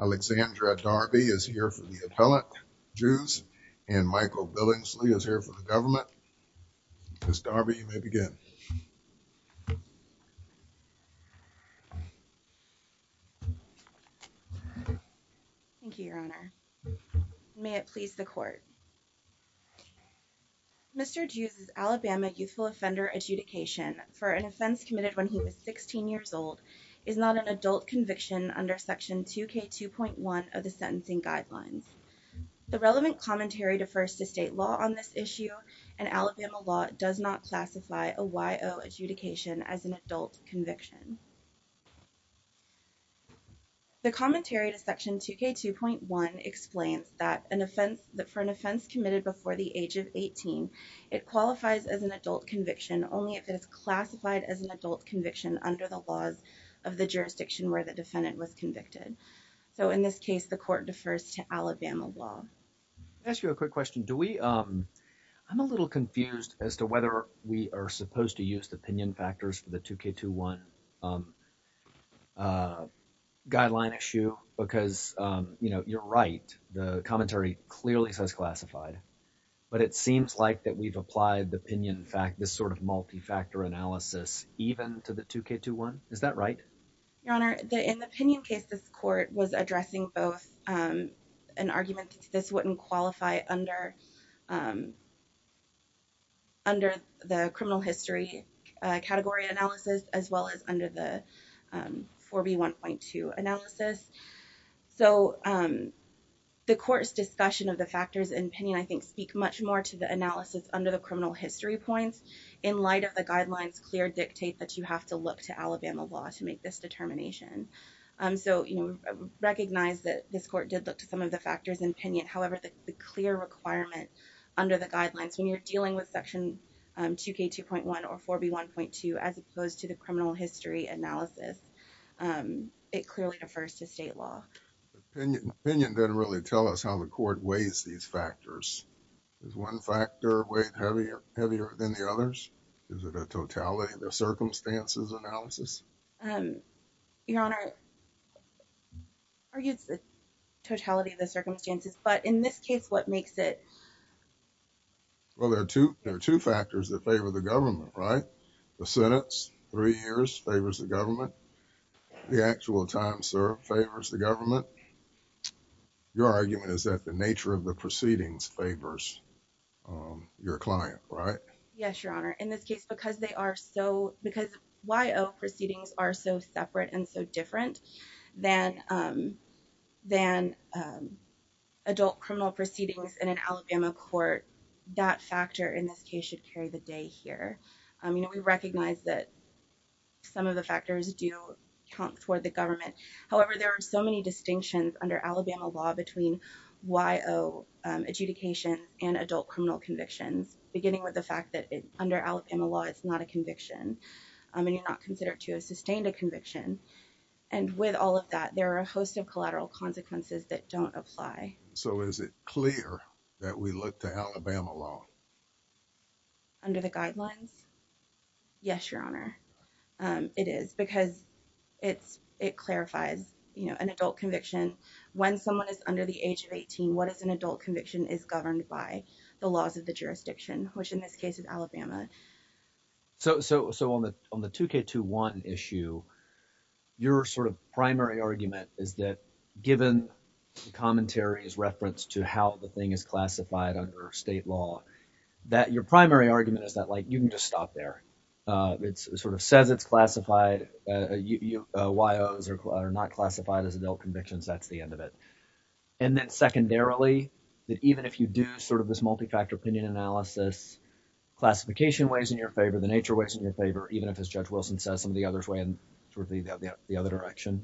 Alexandra Darby is here for the appellate Jews and Michael Billingsley is here for the government. Ms. Darby, you may begin. Thank you, your honor. May it please the court. Mr. Jews' Alabama youthful offender adjudication for an offense committed when he was 16 years old is not an adult conviction under section 2k 2.1 of the sentencing guidelines. The relevant commentary defers to state law on this issue and Alabama law does not classify a Y.O. adjudication as an adult conviction. The commentary to section 2k 2.1 explains that an offense that for an offense committed before the age of 18 it qualifies as an adult conviction only if it is classified as an adult conviction under the laws of the jurisdiction where the defendant was convicted. So in this case the court defers to Alabama law. I ask you a quick question do we um I'm a little confused as to whether we are supposed to use opinion factors for the 2k 2.1 guideline issue because you know you're right the commentary clearly says classified but it seems like that we've applied the opinion fact this sort of multi-factor analysis even to the 2k 2.1 is that right? Your honor, in the opinion case this court was addressing both an argument that this wouldn't qualify under under the criminal history category analysis as well as under the 4b 1.2 analysis so the court's discussion of the factors in opinion I think speak much more to the analysis under the criminal history points in light of the guidelines clear dictate that you have to look to Alabama law to make this determination so you know recognize that this court did look to some of the factors in opinion however the clear requirement under the guidelines when you're dealing with section 2k 2.1 or 4b 1.2 as opposed to the criminal history analysis it clearly refers to state law. Opinion didn't really tell us how the court weighs these factors. Is one factor weight heavier than the others? Is it a totality of the circumstances analysis? Your honor, it argues the totality of the circumstances but in this case what makes it? Well there are two there are two factors that favor the government right? The sentence three years favors the government. The actual time served favors the government. Your argument is that the nature of the proceedings favors your client right? Yes your honor in this case because they are so because Y.O. proceedings are so separate and so different than than adult criminal proceedings in an Alabama court that factor in this case should carry the day here. I mean we recognize that some of the factors do count toward the government however there are so many distinctions under Alabama law between Y.O. adjudication and adult criminal convictions beginning with the fact that under Alabama law it's not a conviction. I mean you're not considered to have sustained a conviction and with all of that there are a host of collateral consequences that don't apply. So is it clear that we look to Alabama law? Under the guidelines? Yes your honor it is because it's it clarifies you know an adult conviction is governed by the laws of the jurisdiction which in this case is Alabama. So so so on the on the 2k21 issue your sort of primary argument is that given commentary is reference to how the thing is classified under state law that your primary argument is that like you can just stop there. It sort of says it's classified. Y.O.s are not classified as adult convictions that's the end of it. And then secondarily that even if you do sort of this multi-factor opinion analysis classification weighs in your favor the nature weighs in your favor even if as Judge Wilson says some of the others weigh in the other direction.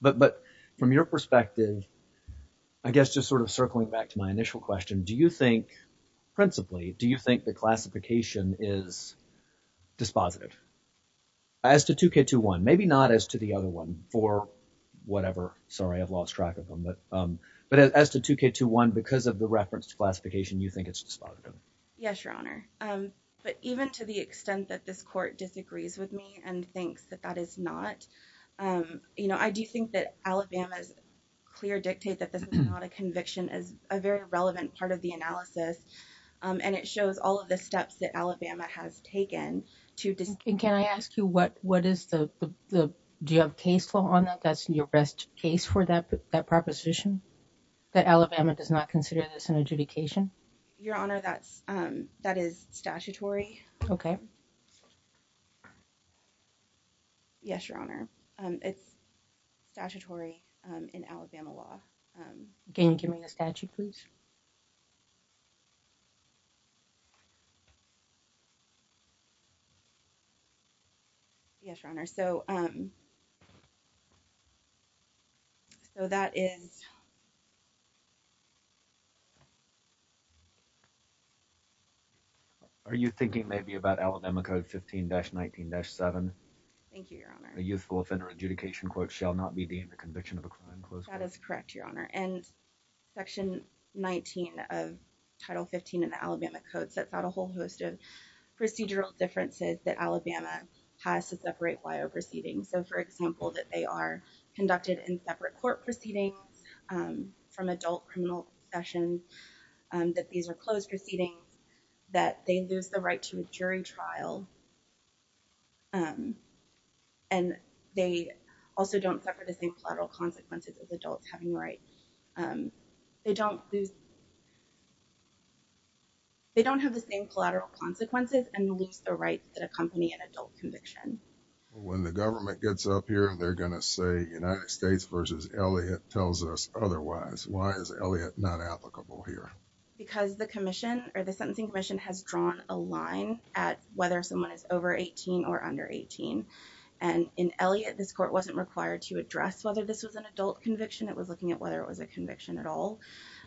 But but from your perspective I guess just sort of circling back to my initial question do you think principally do you think the classification is dispositive? As to 2k21 maybe not as to the other one for whatever sorry I've lost track of them but but as to 2k21 because of the reference to classification you think it's dispositive? Yes your honor but even to the extent that this court disagrees with me and thinks that that is not you know I do think that Alabama's clear dictate that this is not a conviction is a very relevant part of the analysis and it shows all of the steps that Alabama has taken to. And can I ask you what what is the the do you have case law on that that's your best case for that that proposition that Alabama does not consider this an adjudication? Your honor that's that is statutory. Okay. Yes your honor. It's statutory in Alabama law. Can you give me the statute please? Yes your honor so um so that is Are you thinking maybe about Alabama code 15-19-7? Thank you your honor. A youthful offender adjudication quote shall not be deemed a conviction of a title 15 in the Alabama code sets out a whole host of procedural differences that Alabama has to separate wire proceedings so for example that they are conducted in separate court proceedings from adult criminal sessions that these are closed proceedings that they lose the right to a jury trial and they also don't suffer the same collateral consequences as adults having right they don't lose they don't have the same collateral consequences and lose the rights that accompany an adult conviction. When the government gets up here they're gonna say United States versus Elliott tells us otherwise why is Elliott not applicable here? Because the Commission or the Sentencing Commission has drawn a line at whether someone is over 18 or under 18 and in Elliott this court wasn't required to address whether this was an adult conviction it was looking at whether it was a conviction at all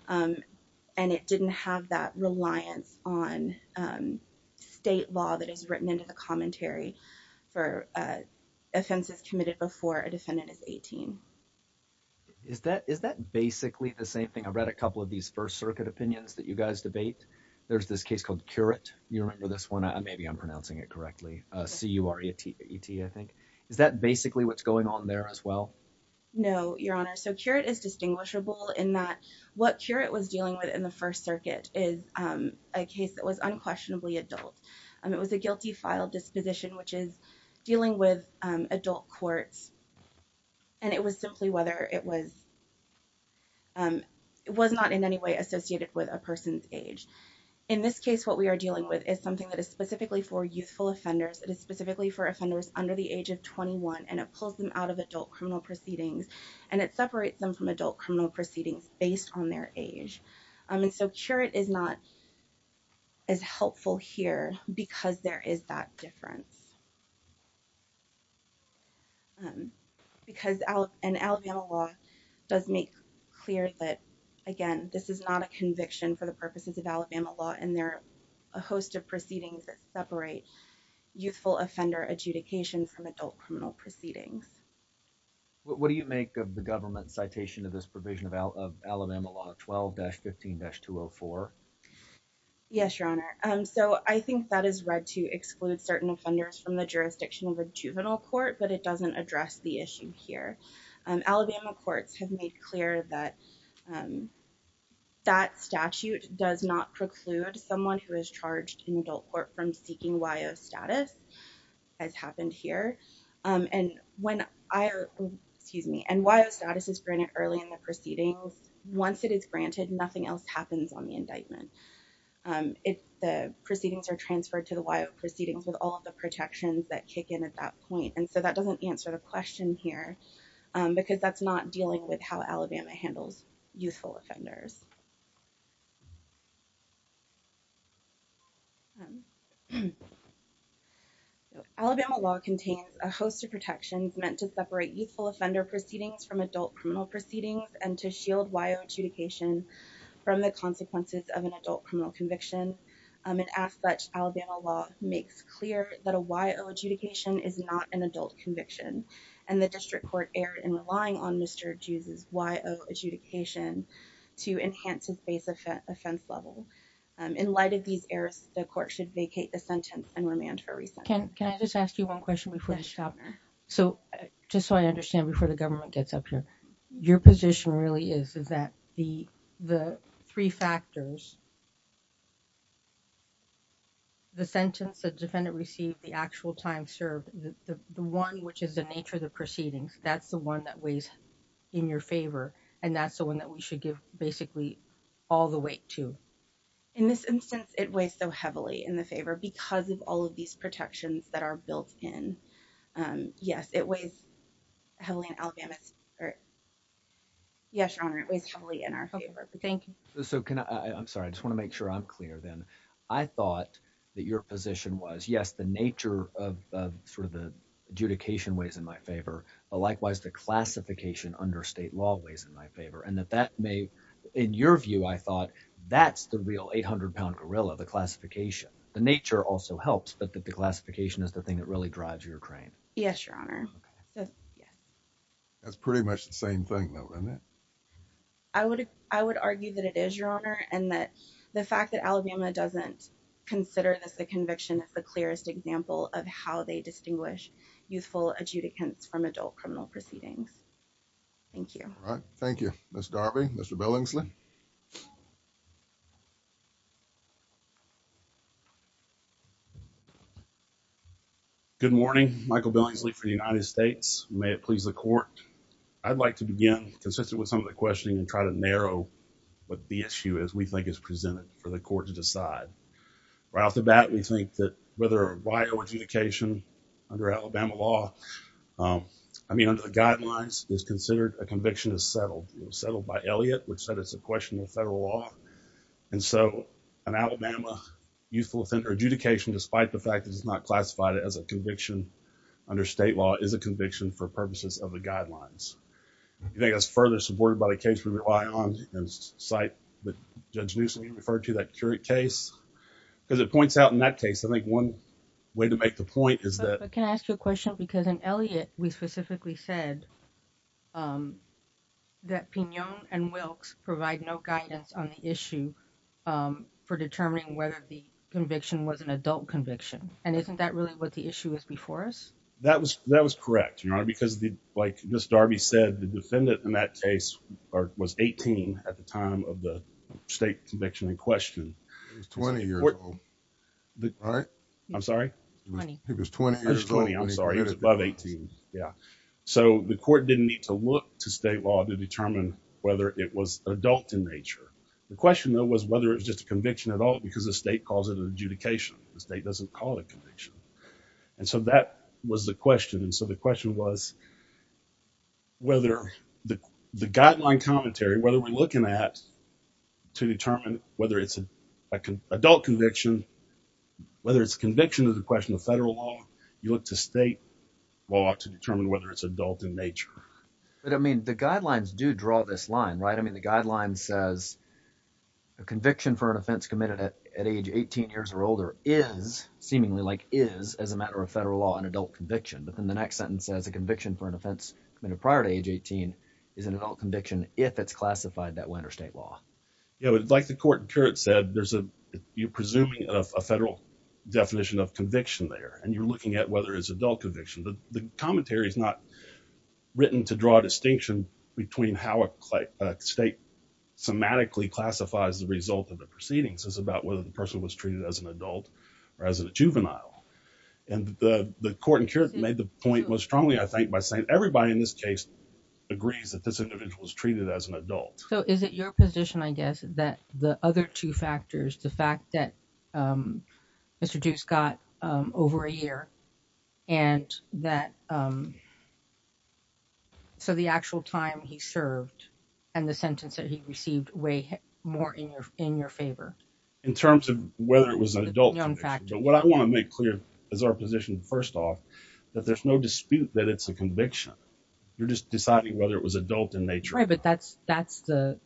and it didn't have that reliance on state law that is written into the commentary for offenses committed before a defendant is 18. Is that is that basically the same thing I've read a couple of these First Circuit opinions that you guys debate there's this case called curate you remember this one I maybe I'm pronouncing it correctly c-u-r-a-t-e-t I think is that basically what's going on there as well? No your honor so curate is distinguishable in that what curate was dealing with in the First Circuit is a case that was unquestionably adult and it was a guilty-file disposition which is dealing with adult courts and it was simply whether it was it was not in any way associated with a person's age. In this case what we are dealing with is something that is specifically for youthful offenders it is specifically for offenders under the age of 21 and it separates them from adult criminal proceedings based on their age. I mean so curate is not as helpful here because there is that difference because an Alabama law does make clear that again this is not a conviction for the purposes of Alabama law and there are a host of proceedings that separate youthful offender adjudication from adult criminal proceedings. What do you make of the government citation of this provision of Alabama law 12-15-204? Yes your honor so I think that is read to exclude certain offenders from the jurisdiction of a juvenile court but it doesn't address the issue here. Alabama courts have made clear that that statute does not preclude someone who is charged in adult court from seeking Y.O. status as happened here and when I excuse me and Y.O. status is granted early in the proceedings once it is granted nothing else happens on the indictment. If the proceedings are transferred to the Y.O. proceedings with all of the protections that kick in at that point and so that doesn't answer the question here because that's not dealing with how Alabama handles youthful offenders. Alabama law contains a host of protections meant to separate youthful offender proceedings from adult criminal proceedings and to shield Y.O. adjudication from the consequences of an adult criminal conviction and as such Alabama law makes clear that a Y.O. adjudication is not an Y.O. adjudication to enhance its base offense level. In light of these errors the court should vacate the sentence and remand for re-sentence. Can I just ask you one question before I stop? So just so I understand before the government gets up here your position really is that the three factors, the sentence the defendant received, the actual time served, the one which is the nature of proceedings that's the one that weighs in your favor and that's the one that we should give basically all the weight to? In this instance it weighs so heavily in the favor because of all of these protections that are built in. Yes it weighs heavily in Alabama's or yes your honor it weighs heavily in our favor. Thank you. So can I I'm sorry I just want to make sure I'm clear then I thought that your the classification weighs in my favor but likewise the classification under state law weighs in my favor and that that may in your view I thought that's the real 800-pound gorilla the classification the nature also helps but that the classification is the thing that really drives your train? Yes your honor. That's pretty much the same thing though isn't it? I would I would argue that it is your honor and that the fact that Alabama doesn't consider this a conviction is the clearest example of how they distinguish youthful adjudicants from adult criminal proceedings. Thank you. Thank you. Mr. Darby, Mr. Billingsley. Good morning. Michael Billingsley for the United States. May it please the court. I'd like to begin consistent with some of the questioning and try to narrow what the issue is we think is presented for the court to decide. Right off the classification under Alabama law I mean under the guidelines is considered a conviction is settled. It was settled by Elliott which said it's a question of federal law and so an Alabama youthful offender adjudication despite the fact that it's not classified as a conviction under state law is a conviction for purposes of the guidelines. You think that's further supported by the case we rely on and cite the Judge Newsome you referred to that curate case because it point is that I can ask you a question because in Elliott we specifically said that Pinon and Wilkes provide no guidance on the issue for determining whether the conviction was an adult conviction and isn't that really what the issue is before us? That was that was correct your honor because the like this Darby said the defendant in that case or was 18 at the time of the state conviction in question. He was 20 years old. I'm sorry. He was 20 years old. He was above 18. Yeah so the court didn't need to look to state law to determine whether it was adult in nature. The question though was whether it's just a conviction at all because the state calls it an adjudication. The state doesn't call it conviction and so that was the question and so the question was whether the whether it's an adult conviction whether it's conviction of the question of federal law you look to state law to determine whether it's adult in nature. But I mean the guidelines do draw this line right I mean the guideline says a conviction for an offense committed at age 18 years or older is seemingly like is as a matter of federal law an adult conviction but then the next sentence says a conviction for an offense committed prior to age 18 is an adult conviction. The court said there's a you're presuming of a federal definition of conviction there and you're looking at whether it's adult conviction but the commentary is not written to draw a distinction between how a state semantically classifies the result of the proceedings. It's about whether the person was treated as an adult or as a juvenile and the court made the point most strongly I think by saying everybody in this case agrees that this other two factors the fact that Mr. Deuce got over a year and that so the actual time he served and the sentence that he received way more in your in your favor. In terms of whether it was an adult in fact what I want to make clear as our position first off that there's no dispute that it's a conviction you're just deciding whether it was adult in nature. Right but that's that's the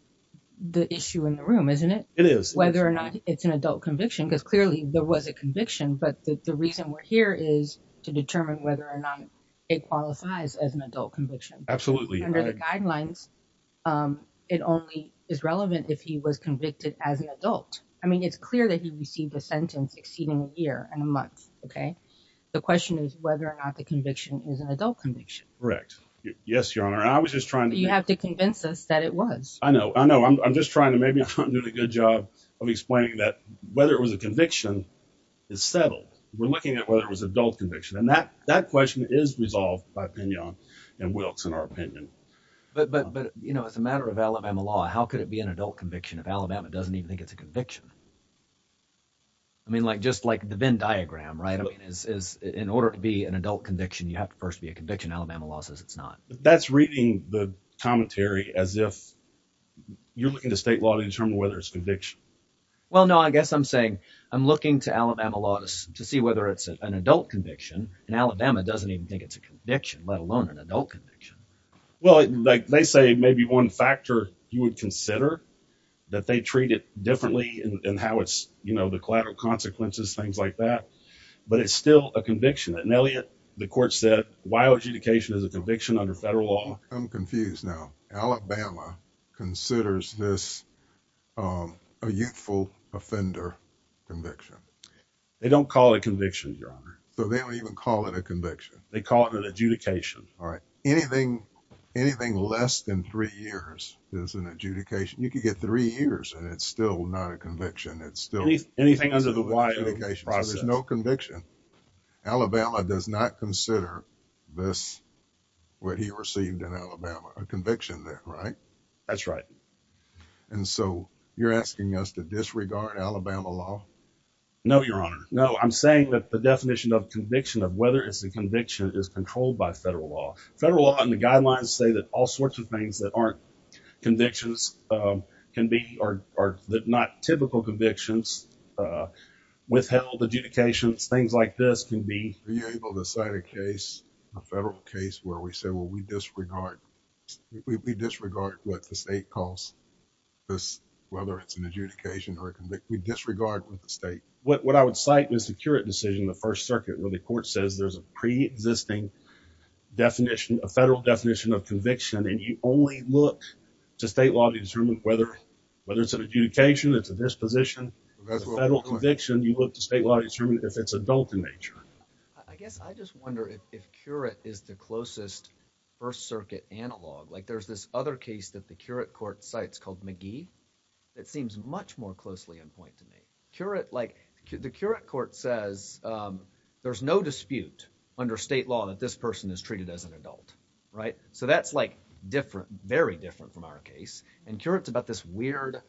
the isn't it? It is. Whether or not it's an adult conviction because clearly there was a conviction but the reason we're here is to determine whether or not it qualifies as an adult conviction. Absolutely. Under the guidelines it only is relevant if he was convicted as an adult. I mean it's clear that he received a sentence exceeding a year and a month okay. The question is whether or not the conviction is an adult conviction. Correct. Yes your honor I was just trying to. You have to convince us that it was. I know I know I'm just trying to maybe do a good job of explaining that whether it was a conviction is settled. We're looking at whether it was adult conviction and that that question is resolved by Pignon and Wilkes in our opinion. But but but you know it's a matter of Alabama law how could it be an adult conviction if Alabama doesn't even think it's a conviction? I mean like just like the Venn diagram right I mean is in order to be an adult conviction you have to first be a conviction Alabama law says it's not. That's reading the commentary as if you're looking to state law to determine whether it's conviction. Well no I guess I'm saying I'm looking to Alabama laws to see whether it's an adult conviction and Alabama doesn't even think it's a conviction let alone an adult conviction. Well like they say maybe one factor you would consider that they treat it differently and how it's you know the collateral consequences things like that but it's still a conviction. At Nelliot the court said WIOA adjudication is a conviction under federal law. I'm confused now Alabama considers this a youthful offender conviction. They don't call it conviction your honor. So they don't even call it a conviction. They call it an adjudication. All right anything anything less than three years is an adjudication you could get three years and it's still not a conviction. It's still anything under the WIOA. There's no conviction Alabama does not received in Alabama a conviction there right? That's right. And so you're asking us to disregard Alabama law? No your honor no I'm saying that the definition of conviction of whether it's a conviction is controlled by federal law. Federal law and the guidelines say that all sorts of things that aren't convictions can be or that not typical convictions withheld adjudications things like this can be. Are you able to cite a case a federal case where we say we disregard we disregard what the state calls this whether it's an adjudication or a conviction. We disregard with the state. What I would cite is the Kuret decision the First Circuit where the court says there's a pre-existing definition a federal definition of conviction and you only look to state law to determine whether whether it's an adjudication it's a disposition. Federal conviction you look to state law to determine if it's adult in nature. I guess I just wonder if Kuret is the closest First Circuit analog like there's this other case that the Kuret court cites called McGee that seems much more closely in point to me. Kuret like the Kuret court says there's no dispute under state law that this person is treated as an adult right? So that's like different very different from our case and Kuret's about this weird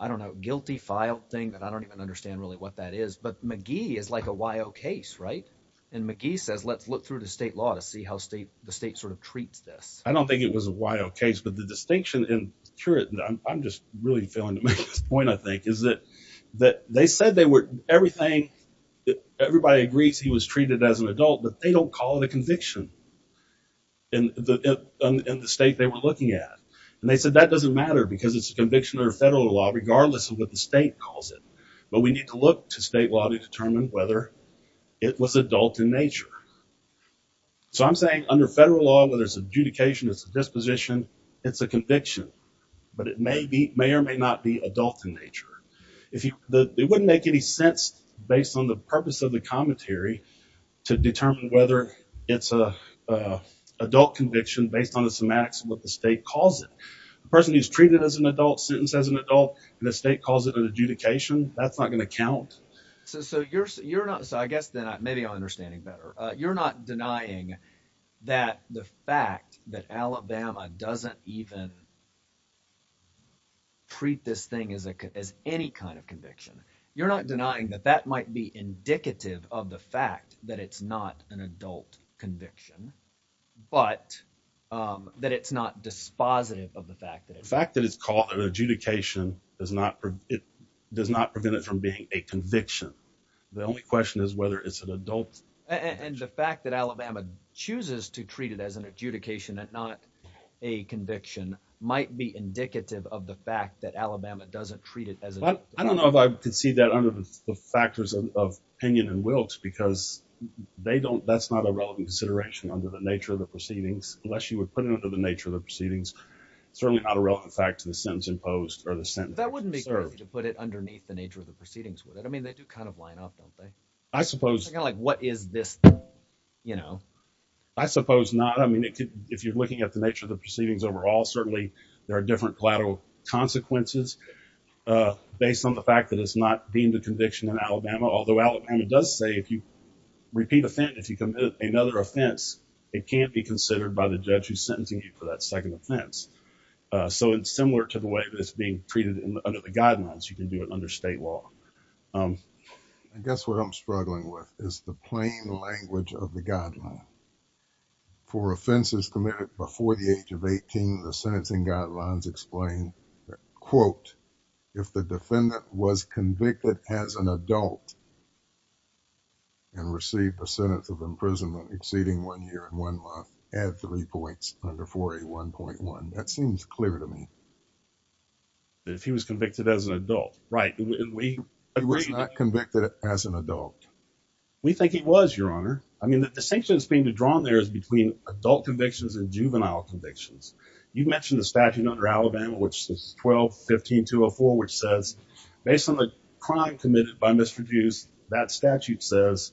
I don't know guilty file thing that I don't even understand really what that is but McGee is like a Y.O. case right? And McGee says let's look through the state law to see how state the state sort of treats this. I don't think it was a Y.O. case but the distinction in Kuret and I'm just really failing to make this point I think is that that they said they were everything that everybody agrees he was treated as an adult but they don't call it a conviction in the state they were looking at and they said that doesn't matter because it's a conviction or federal law regardless of what the state calls it but we need to look to state law to determine whether it was adult in nature. So I'm saying under federal law whether it's adjudication it's a disposition it's a conviction but it may be may or may not be adult in nature. If you the it wouldn't make any sense based on the purpose of the commentary to determine whether it's a adult conviction based on the semantics of what the state calls it. A person who's treated as an adult sentenced as an adult and the state calls it an adjudication that's not going to count. So you're so you're not so I guess then maybe I'm understanding better you're not denying that the fact that Alabama doesn't even treat this thing as a as any kind of conviction you're not denying that that might be indicative of the fact that it's not an adult conviction but that it's not dispositive of the fact that it's. The fact that it's called an adjudication does not it does not prevent it from being a conviction. The only question is whether it's an adult. And the fact that Alabama chooses to treat it as an adjudication that not a conviction might be indicative of the fact that Alabama doesn't treat it as an adult. I don't know if I could see that under the factors of opinion and wills because they don't that's not a relevant consideration under the nature of the proceedings unless you would put it under the nature of the proceedings certainly not a relevant fact to the sentence imposed or the sentence. That I suppose like what is this you know I suppose not I mean it could if you're looking at the nature of the proceedings overall certainly there are different collateral consequences based on the fact that it's not deemed a conviction in Alabama although Alabama does say if you repeat a thing if you commit another offense it can't be considered by the judge who's sentencing you for that second offense. So it's similar to the way that it's being treated under the state law. I guess what I'm struggling with is the plain language of the guideline. For offenses committed before the age of 18 the sentencing guidelines explain that quote if the defendant was convicted as an adult and received the sentence of imprisonment exceeding one year and one month add three points under 4A1.1. That seems clear to me. If he was convicted as an adult right He was not convicted as an adult. We think he was your honor. I mean the distinction that's being drawn there is between adult convictions and juvenile convictions. You mentioned the statute under Alabama which is 12 15 204 which says based on the crime committed by Mr. Deuce that statute says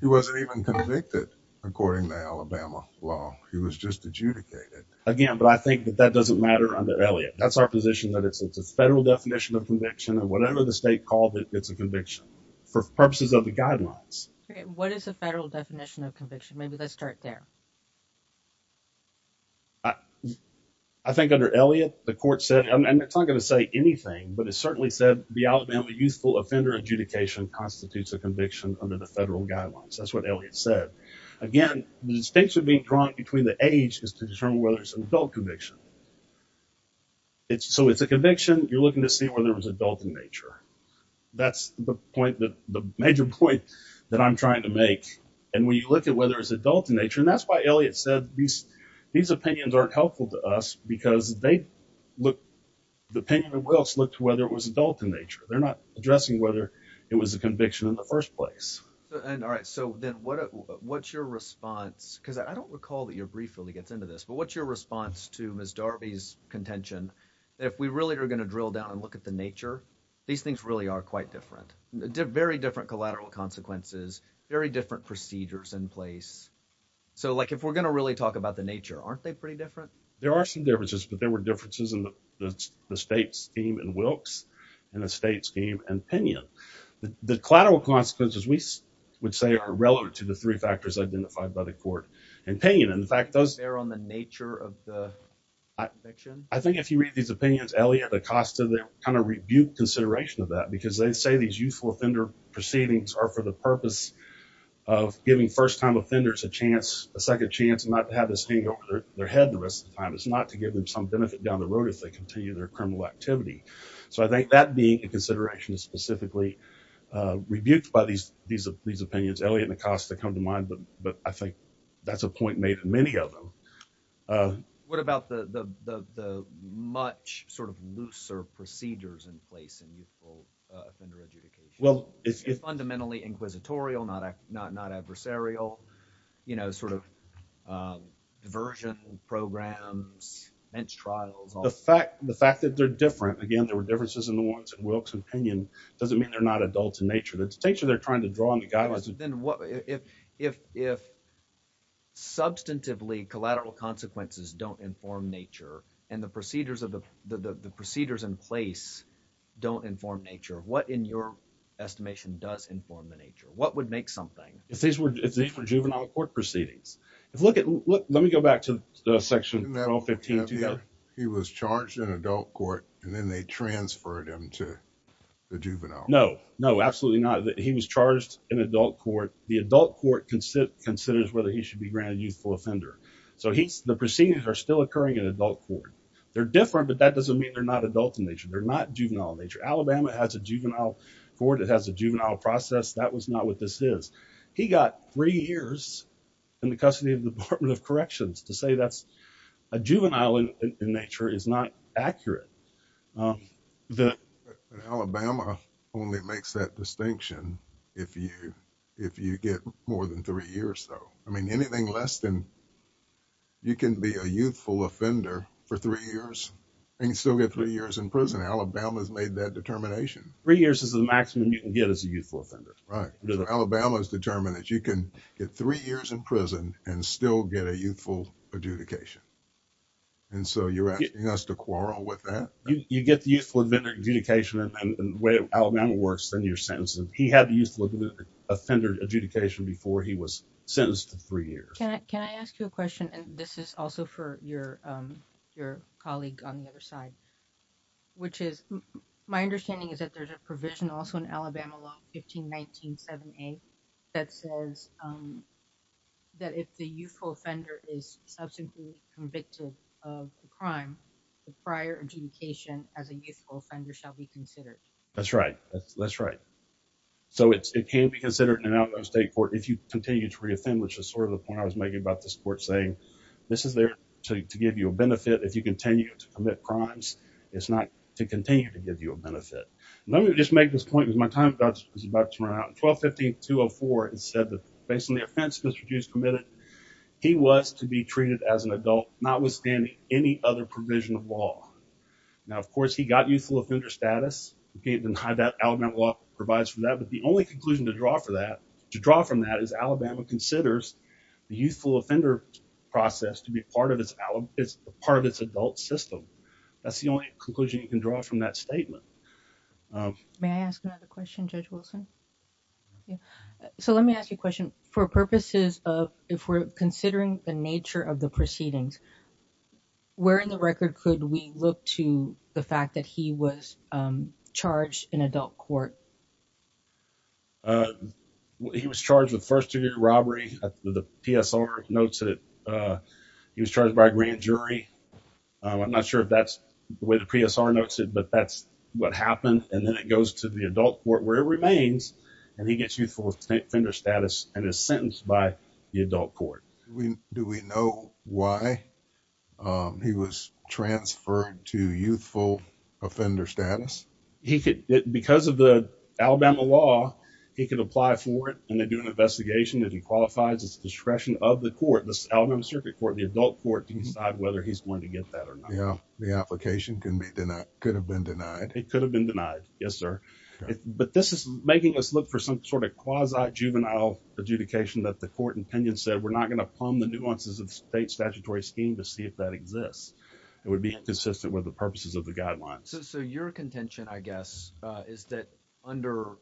he wasn't even convicted according to Alabama law. He was just adjudicated. Again but I think that that doesn't matter under Elliott. That's our position that it's a federal definition of conviction and whatever the state called it it's a conviction for purposes of the guidelines. What is a federal definition of conviction? Maybe let's start there. I think under Elliott the court said and it's not going to say anything but it certainly said the Alabama youthful offender adjudication constitutes a conviction under the federal guidelines. That's what Elliott said. Again the distinction being drawn between the age is to determine whether there's an adult conviction. It's so it's a conviction you're looking to see whether it was adult in nature. That's the point that the major point that I'm trying to make and when you look at whether it's adult in nature and that's why Elliott said these these opinions aren't helpful to us because they look the opinion of Willis looked whether it was adult in nature. They're not addressing whether it was a conviction in the first place. All right so then what what's your response because I don't recall that your brief really gets into this but what's your response to Ms. Darby's contention if we really are going to drill down and look at the nature these things really are quite different. Very different collateral consequences, very different procedures in place. So like if we're going to really talk about the nature aren't they pretty different? There are some differences but there were differences in the state scheme and Wilkes and a state scheme and Pinion. The collateral consequences we would say are relevant to the three factors identified by the court and Pinion. In fact those are on the nature of the conviction. I think if you read these opinions Elliott and Acosta they kind of rebuke consideration of that because they say these youthful offender proceedings are for the purpose of giving first-time offenders a chance a second chance and not to have this hang over their head the rest of the time. It's not to give them some benefit down the road if they continue their criminal activity. So I think that being a consideration is specifically rebuked by these these of these opinions Elliott and Acosta come to mind but but I think that's a point made in many of them. What about the much sort of looser procedures in place in youthful offender adjudication? Fundamentally inquisitorial, not adversarial, you know sort of diversion programs, bench trials. The fact the fact that they're different again there were differences in the ones in Wilkes and Pinion doesn't mean they're not adults in nature. The nature they're trying to draw on the if if substantively collateral consequences don't inform nature and the procedures of the the procedures in place don't inform nature. What in your estimation does inform the nature? What would make something? If these were juvenile court proceedings. If look at look let me go back to the section 1215. He was charged in adult court and then they transferred him to the adult court considers whether he should be granted youthful offender. So he's the proceedings are still occurring in adult court. They're different but that doesn't mean they're not adult in nature. They're not juvenile in nature. Alabama has a juvenile court it has a juvenile process that was not what this is. He got three years in the custody of the Department of Corrections to say that's a juvenile in nature is not accurate. Alabama only makes that distinction if you if you get more than three years though. I mean anything less than you can be a youthful offender for three years and still get three years in prison. Alabama's made that determination. Three years is the maximum you can get as a youthful offender. Right. Alabama's determined that you can get three years in prison and still get a youthful adjudication and so you're asking us to quarrel with that? You get the youthful adjudication and the way Alabama works then your youthful offender adjudication before he was sentenced to three years. Can I ask you a question and this is also for your your colleague on the other side which is my understanding is that there's a provision also in Alabama law 1519 7a that says that if the youthful offender is substantively convicted of the crime the prior adjudication as a youthful offender shall be considered. That's right. That's right. So it can be considered an out of state court if you continue to reoffend which is sort of the point I was making about this court saying this is there to give you a benefit if you continue to commit crimes it's not to continue to give you a benefit. Let me just make this point is my time is about to run out. 1250 204 it said that based on the offense Mr. Deuce committed he was to be treated as an adult notwithstanding any other provision of law. Now of course he got youthful offender status and how that Alabama law provides for that but the only conclusion to draw for that to draw from that is Alabama considers the youthful offender process to be part of its part of its adult system. That's the only conclusion you can draw from that statement. May I ask another question Judge Wilson? So let me ask you a question for purposes of if we're considering the nature of the record could we look to the fact that he was charged in adult court? He was charged with first-degree robbery. The PSR notes that he was charged by a grand jury. I'm not sure if that's the way the PSR notes it but that's what happened and then it goes to the adult court where it remains and he gets youthful offender status and is sentenced by the adult court. Do we know why he was transferred to youthful offender status? He could because of the Alabama law he could apply for it and they do an investigation that he qualifies as discretion of the court this Alabama Circuit Court the adult court to decide whether he's going to get that or not. Yeah the application can be denied could have been denied. It could have been denied yes sir but this is making us look for some sort of quasi juvenile adjudication that the court opinion said we're not going to plumb the nuances of state statutory scheme to see if that exists. It would be inconsistent with the purposes of the guidelines. So your contention I guess is that under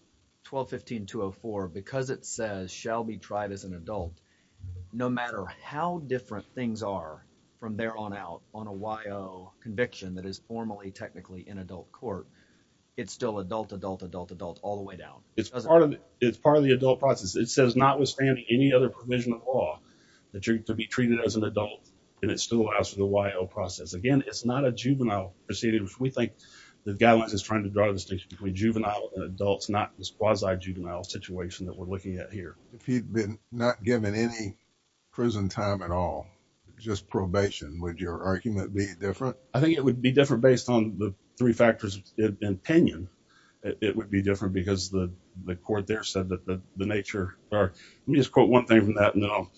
1215-204 because it says shall be tried as an adult no matter how different things are from there on out on a YO conviction that is formally technically in adult court it's still adult adult all the way down. It's part of it's part of the adult process it says not withstanding any other provision of law that you're to be treated as an adult and it still allows for the YO process again it's not a juvenile proceeding we think the guidelines is trying to draw the distinction between juvenile and adults not this quasi juvenile situation that we're looking at here. If he'd been not given any prison time at all just probation would your argument be different? I think it would be different based on the three factors opinion it would be different because the the court there said that the nature or let me just quote one thing from that no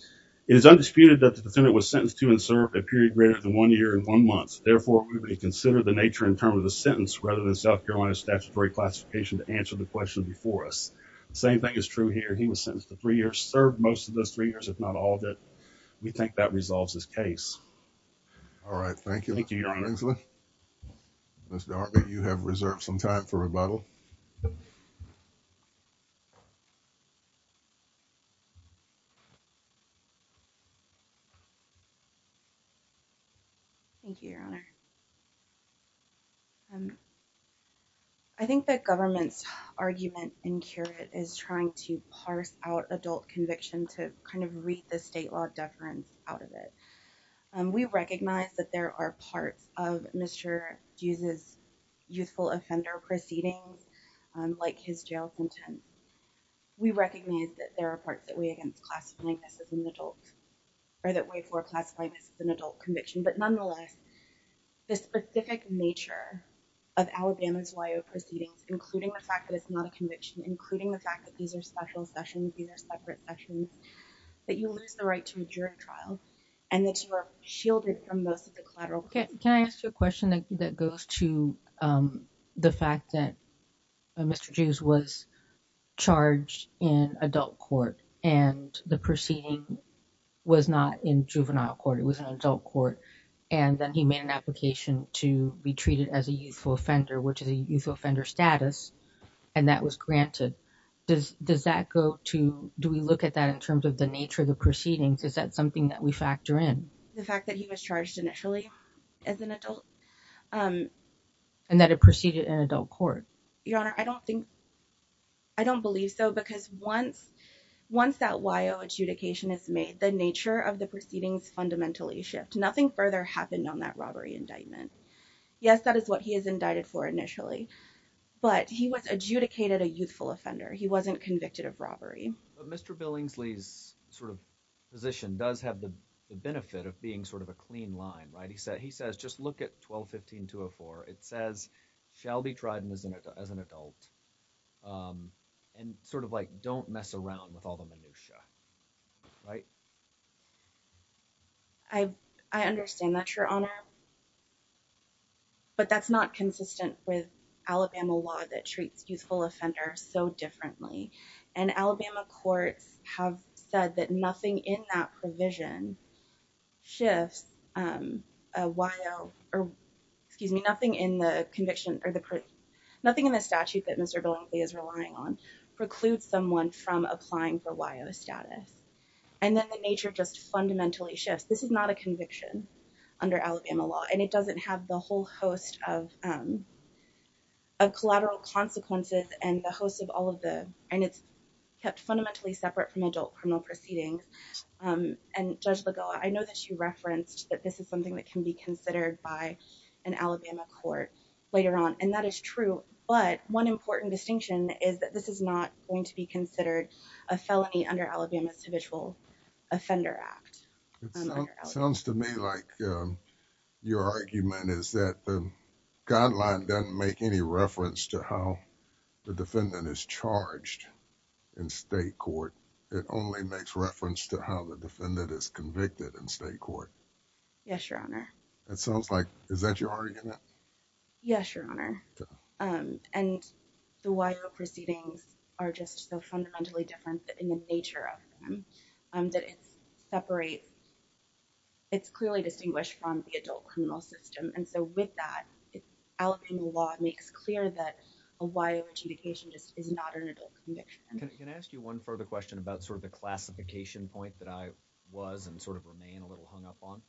it is undisputed that the defendant was sentenced to and served a period greater than one year and one month therefore we would consider the nature in terms of the sentence rather than South Carolina statutory classification to answer the question before us. The same thing is true here he was sentenced to three years served most of those three years if not all of it we think that resolves this case. All right thank you. Mr. Arbett you have reserved some time for rebuttal. Thank you your honor. I think that government's argument in curate is trying to parse out adult conviction to kind of read the state law deference out of it. We recognize that there are parts of Mr. Dues' youthful offender proceedings like his jail sentence. We recognize that there are parts that weigh against classifying this as an adult or that way for classifying this as an adult conviction but nonetheless the specific nature of Alabama's Y.O. proceedings including the fact that it's not a conviction including the fact that these are special sessions these are separate sessions that you lose the right to a Can I ask you a question that goes to the fact that Mr. Dues was charged in adult court and the proceeding was not in juvenile court it was an adult court and then he made an application to be treated as a youthful offender which is a youthful offender status and that was granted. Does that go to do we look at that in terms of the nature of the proceedings is that something that we as an adult um and that it proceeded in adult court your honor I don't think I don't believe so because once once that Y.O. adjudication is made the nature of the proceedings fundamentally shift nothing further happened on that robbery indictment yes that is what he is indicted for initially but he was adjudicated a youthful offender he wasn't convicted of robbery but Mr. Bill Ingsley's sort of position does have the benefit of being sort of a clean line right he said he says just look at 12 15 204 it says shall be tried and as an adult um and sort of like don't mess around with all the minutiae right I I understand that your honor but that's not consistent with Alabama law that treats youthful offenders so differently and Alabama courts have said that nothing in that provision shifts um a while or excuse me nothing in the conviction or the nothing in the statute that Mr. Bill is relying on precludes someone from applying for Y.O. status and then the nature just fundamentally shifts this is not a conviction under Alabama law and it doesn't have the whole host of um of collateral consequences and the host of all of the and it's kept fundamentally separate from adult criminal proceedings um and Judge Lagoa I know that you referenced that this is something that can be considered by an Alabama court later on and that is true but one important distinction is that this is not going to be considered a felony under Alabama's habitual offender act it sounds to me like your argument is that the guideline doesn't make any reference to how the defendant is it only makes reference to how the defendant is convicted in state court yes your honor it sounds like is that your argument yes your honor um and the Y.O. proceedings are just so fundamentally different in the nature of them um that it's separate it's clearly distinguished from the adult criminal system and so with that Alabama law makes clear that a Y.O. just is not an adult conviction can I ask you one further question about sort of the classification point that I was and sort of remain a little hung up on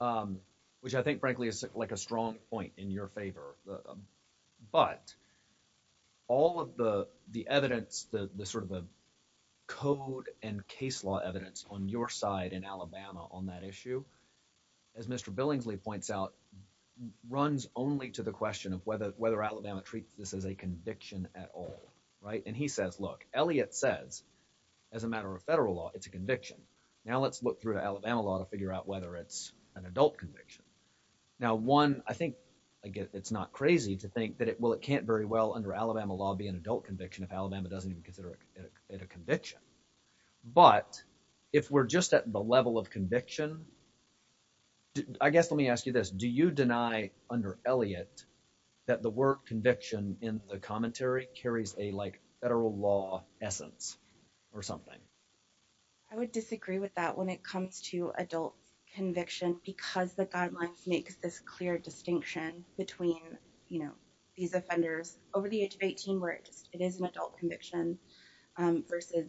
um which I think frankly is like a strong point in your favor but all of the the evidence the the sort of the code and case law evidence on your side in Alabama on that issue as Mr. Billingsley points out runs only to the question of whether whether Alabama treats this as a conviction at all right and he says look Elliott says as a matter of federal law it's a conviction now let's look through Alabama law to figure out whether it's an adult conviction now one I think again it's not crazy to think that it well it can't very well under Alabama law be an adult conviction if Alabama doesn't even consider it a conviction but if we're just at the level of under Elliott that the word conviction in the commentary carries a like federal law essence or something I would disagree with that when it comes to adult conviction because the guidelines makes this clear distinction between you know these offenders over the age of 18 where it is an adult conviction um versus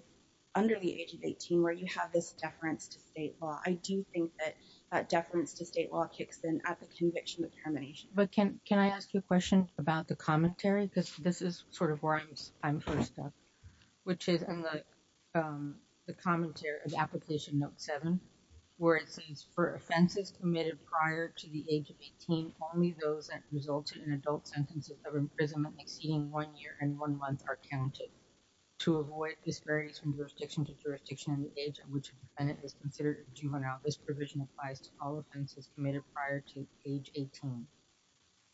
under the age of 18 where you have this deference to state law I do think that deference to state law kicks in at the conviction of termination but can can I ask you a question about the commentary because this is sort of where I'm first up which is in the the commentary of application note 7 where it says for offenses committed prior to the age of 18 only those that resulted in adult sentences of imprisonment exceeding one year and one month are counted to avoid disparities from jurisdiction to jurisdiction in the age at which a defendant is considered a juvenile this provision applies to all offenses committed prior to age 18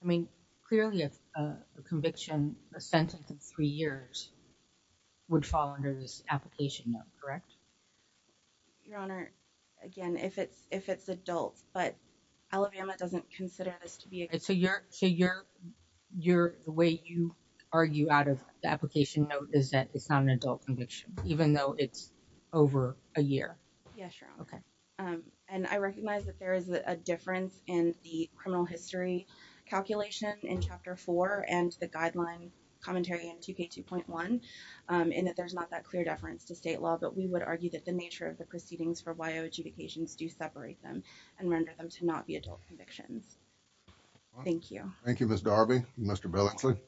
I mean clearly if a conviction a sentence of three years would fall under this application note correct your honor again if it's if it's adult but Alabama doesn't consider this to be so you're so you're you're the way you argue out of the application note is that it's not an adult conviction even though it's over a year yeah sure okay um and I recognize that there is a difference in the criminal history calculation in chapter 4 and the guideline commentary in 2k 2.1 um and that there's not that clear deference to state law but we would argue that the nature of the proceedings for yo adjudications do separate them and render them to not be adult convictions thank you thank you Mr Belichick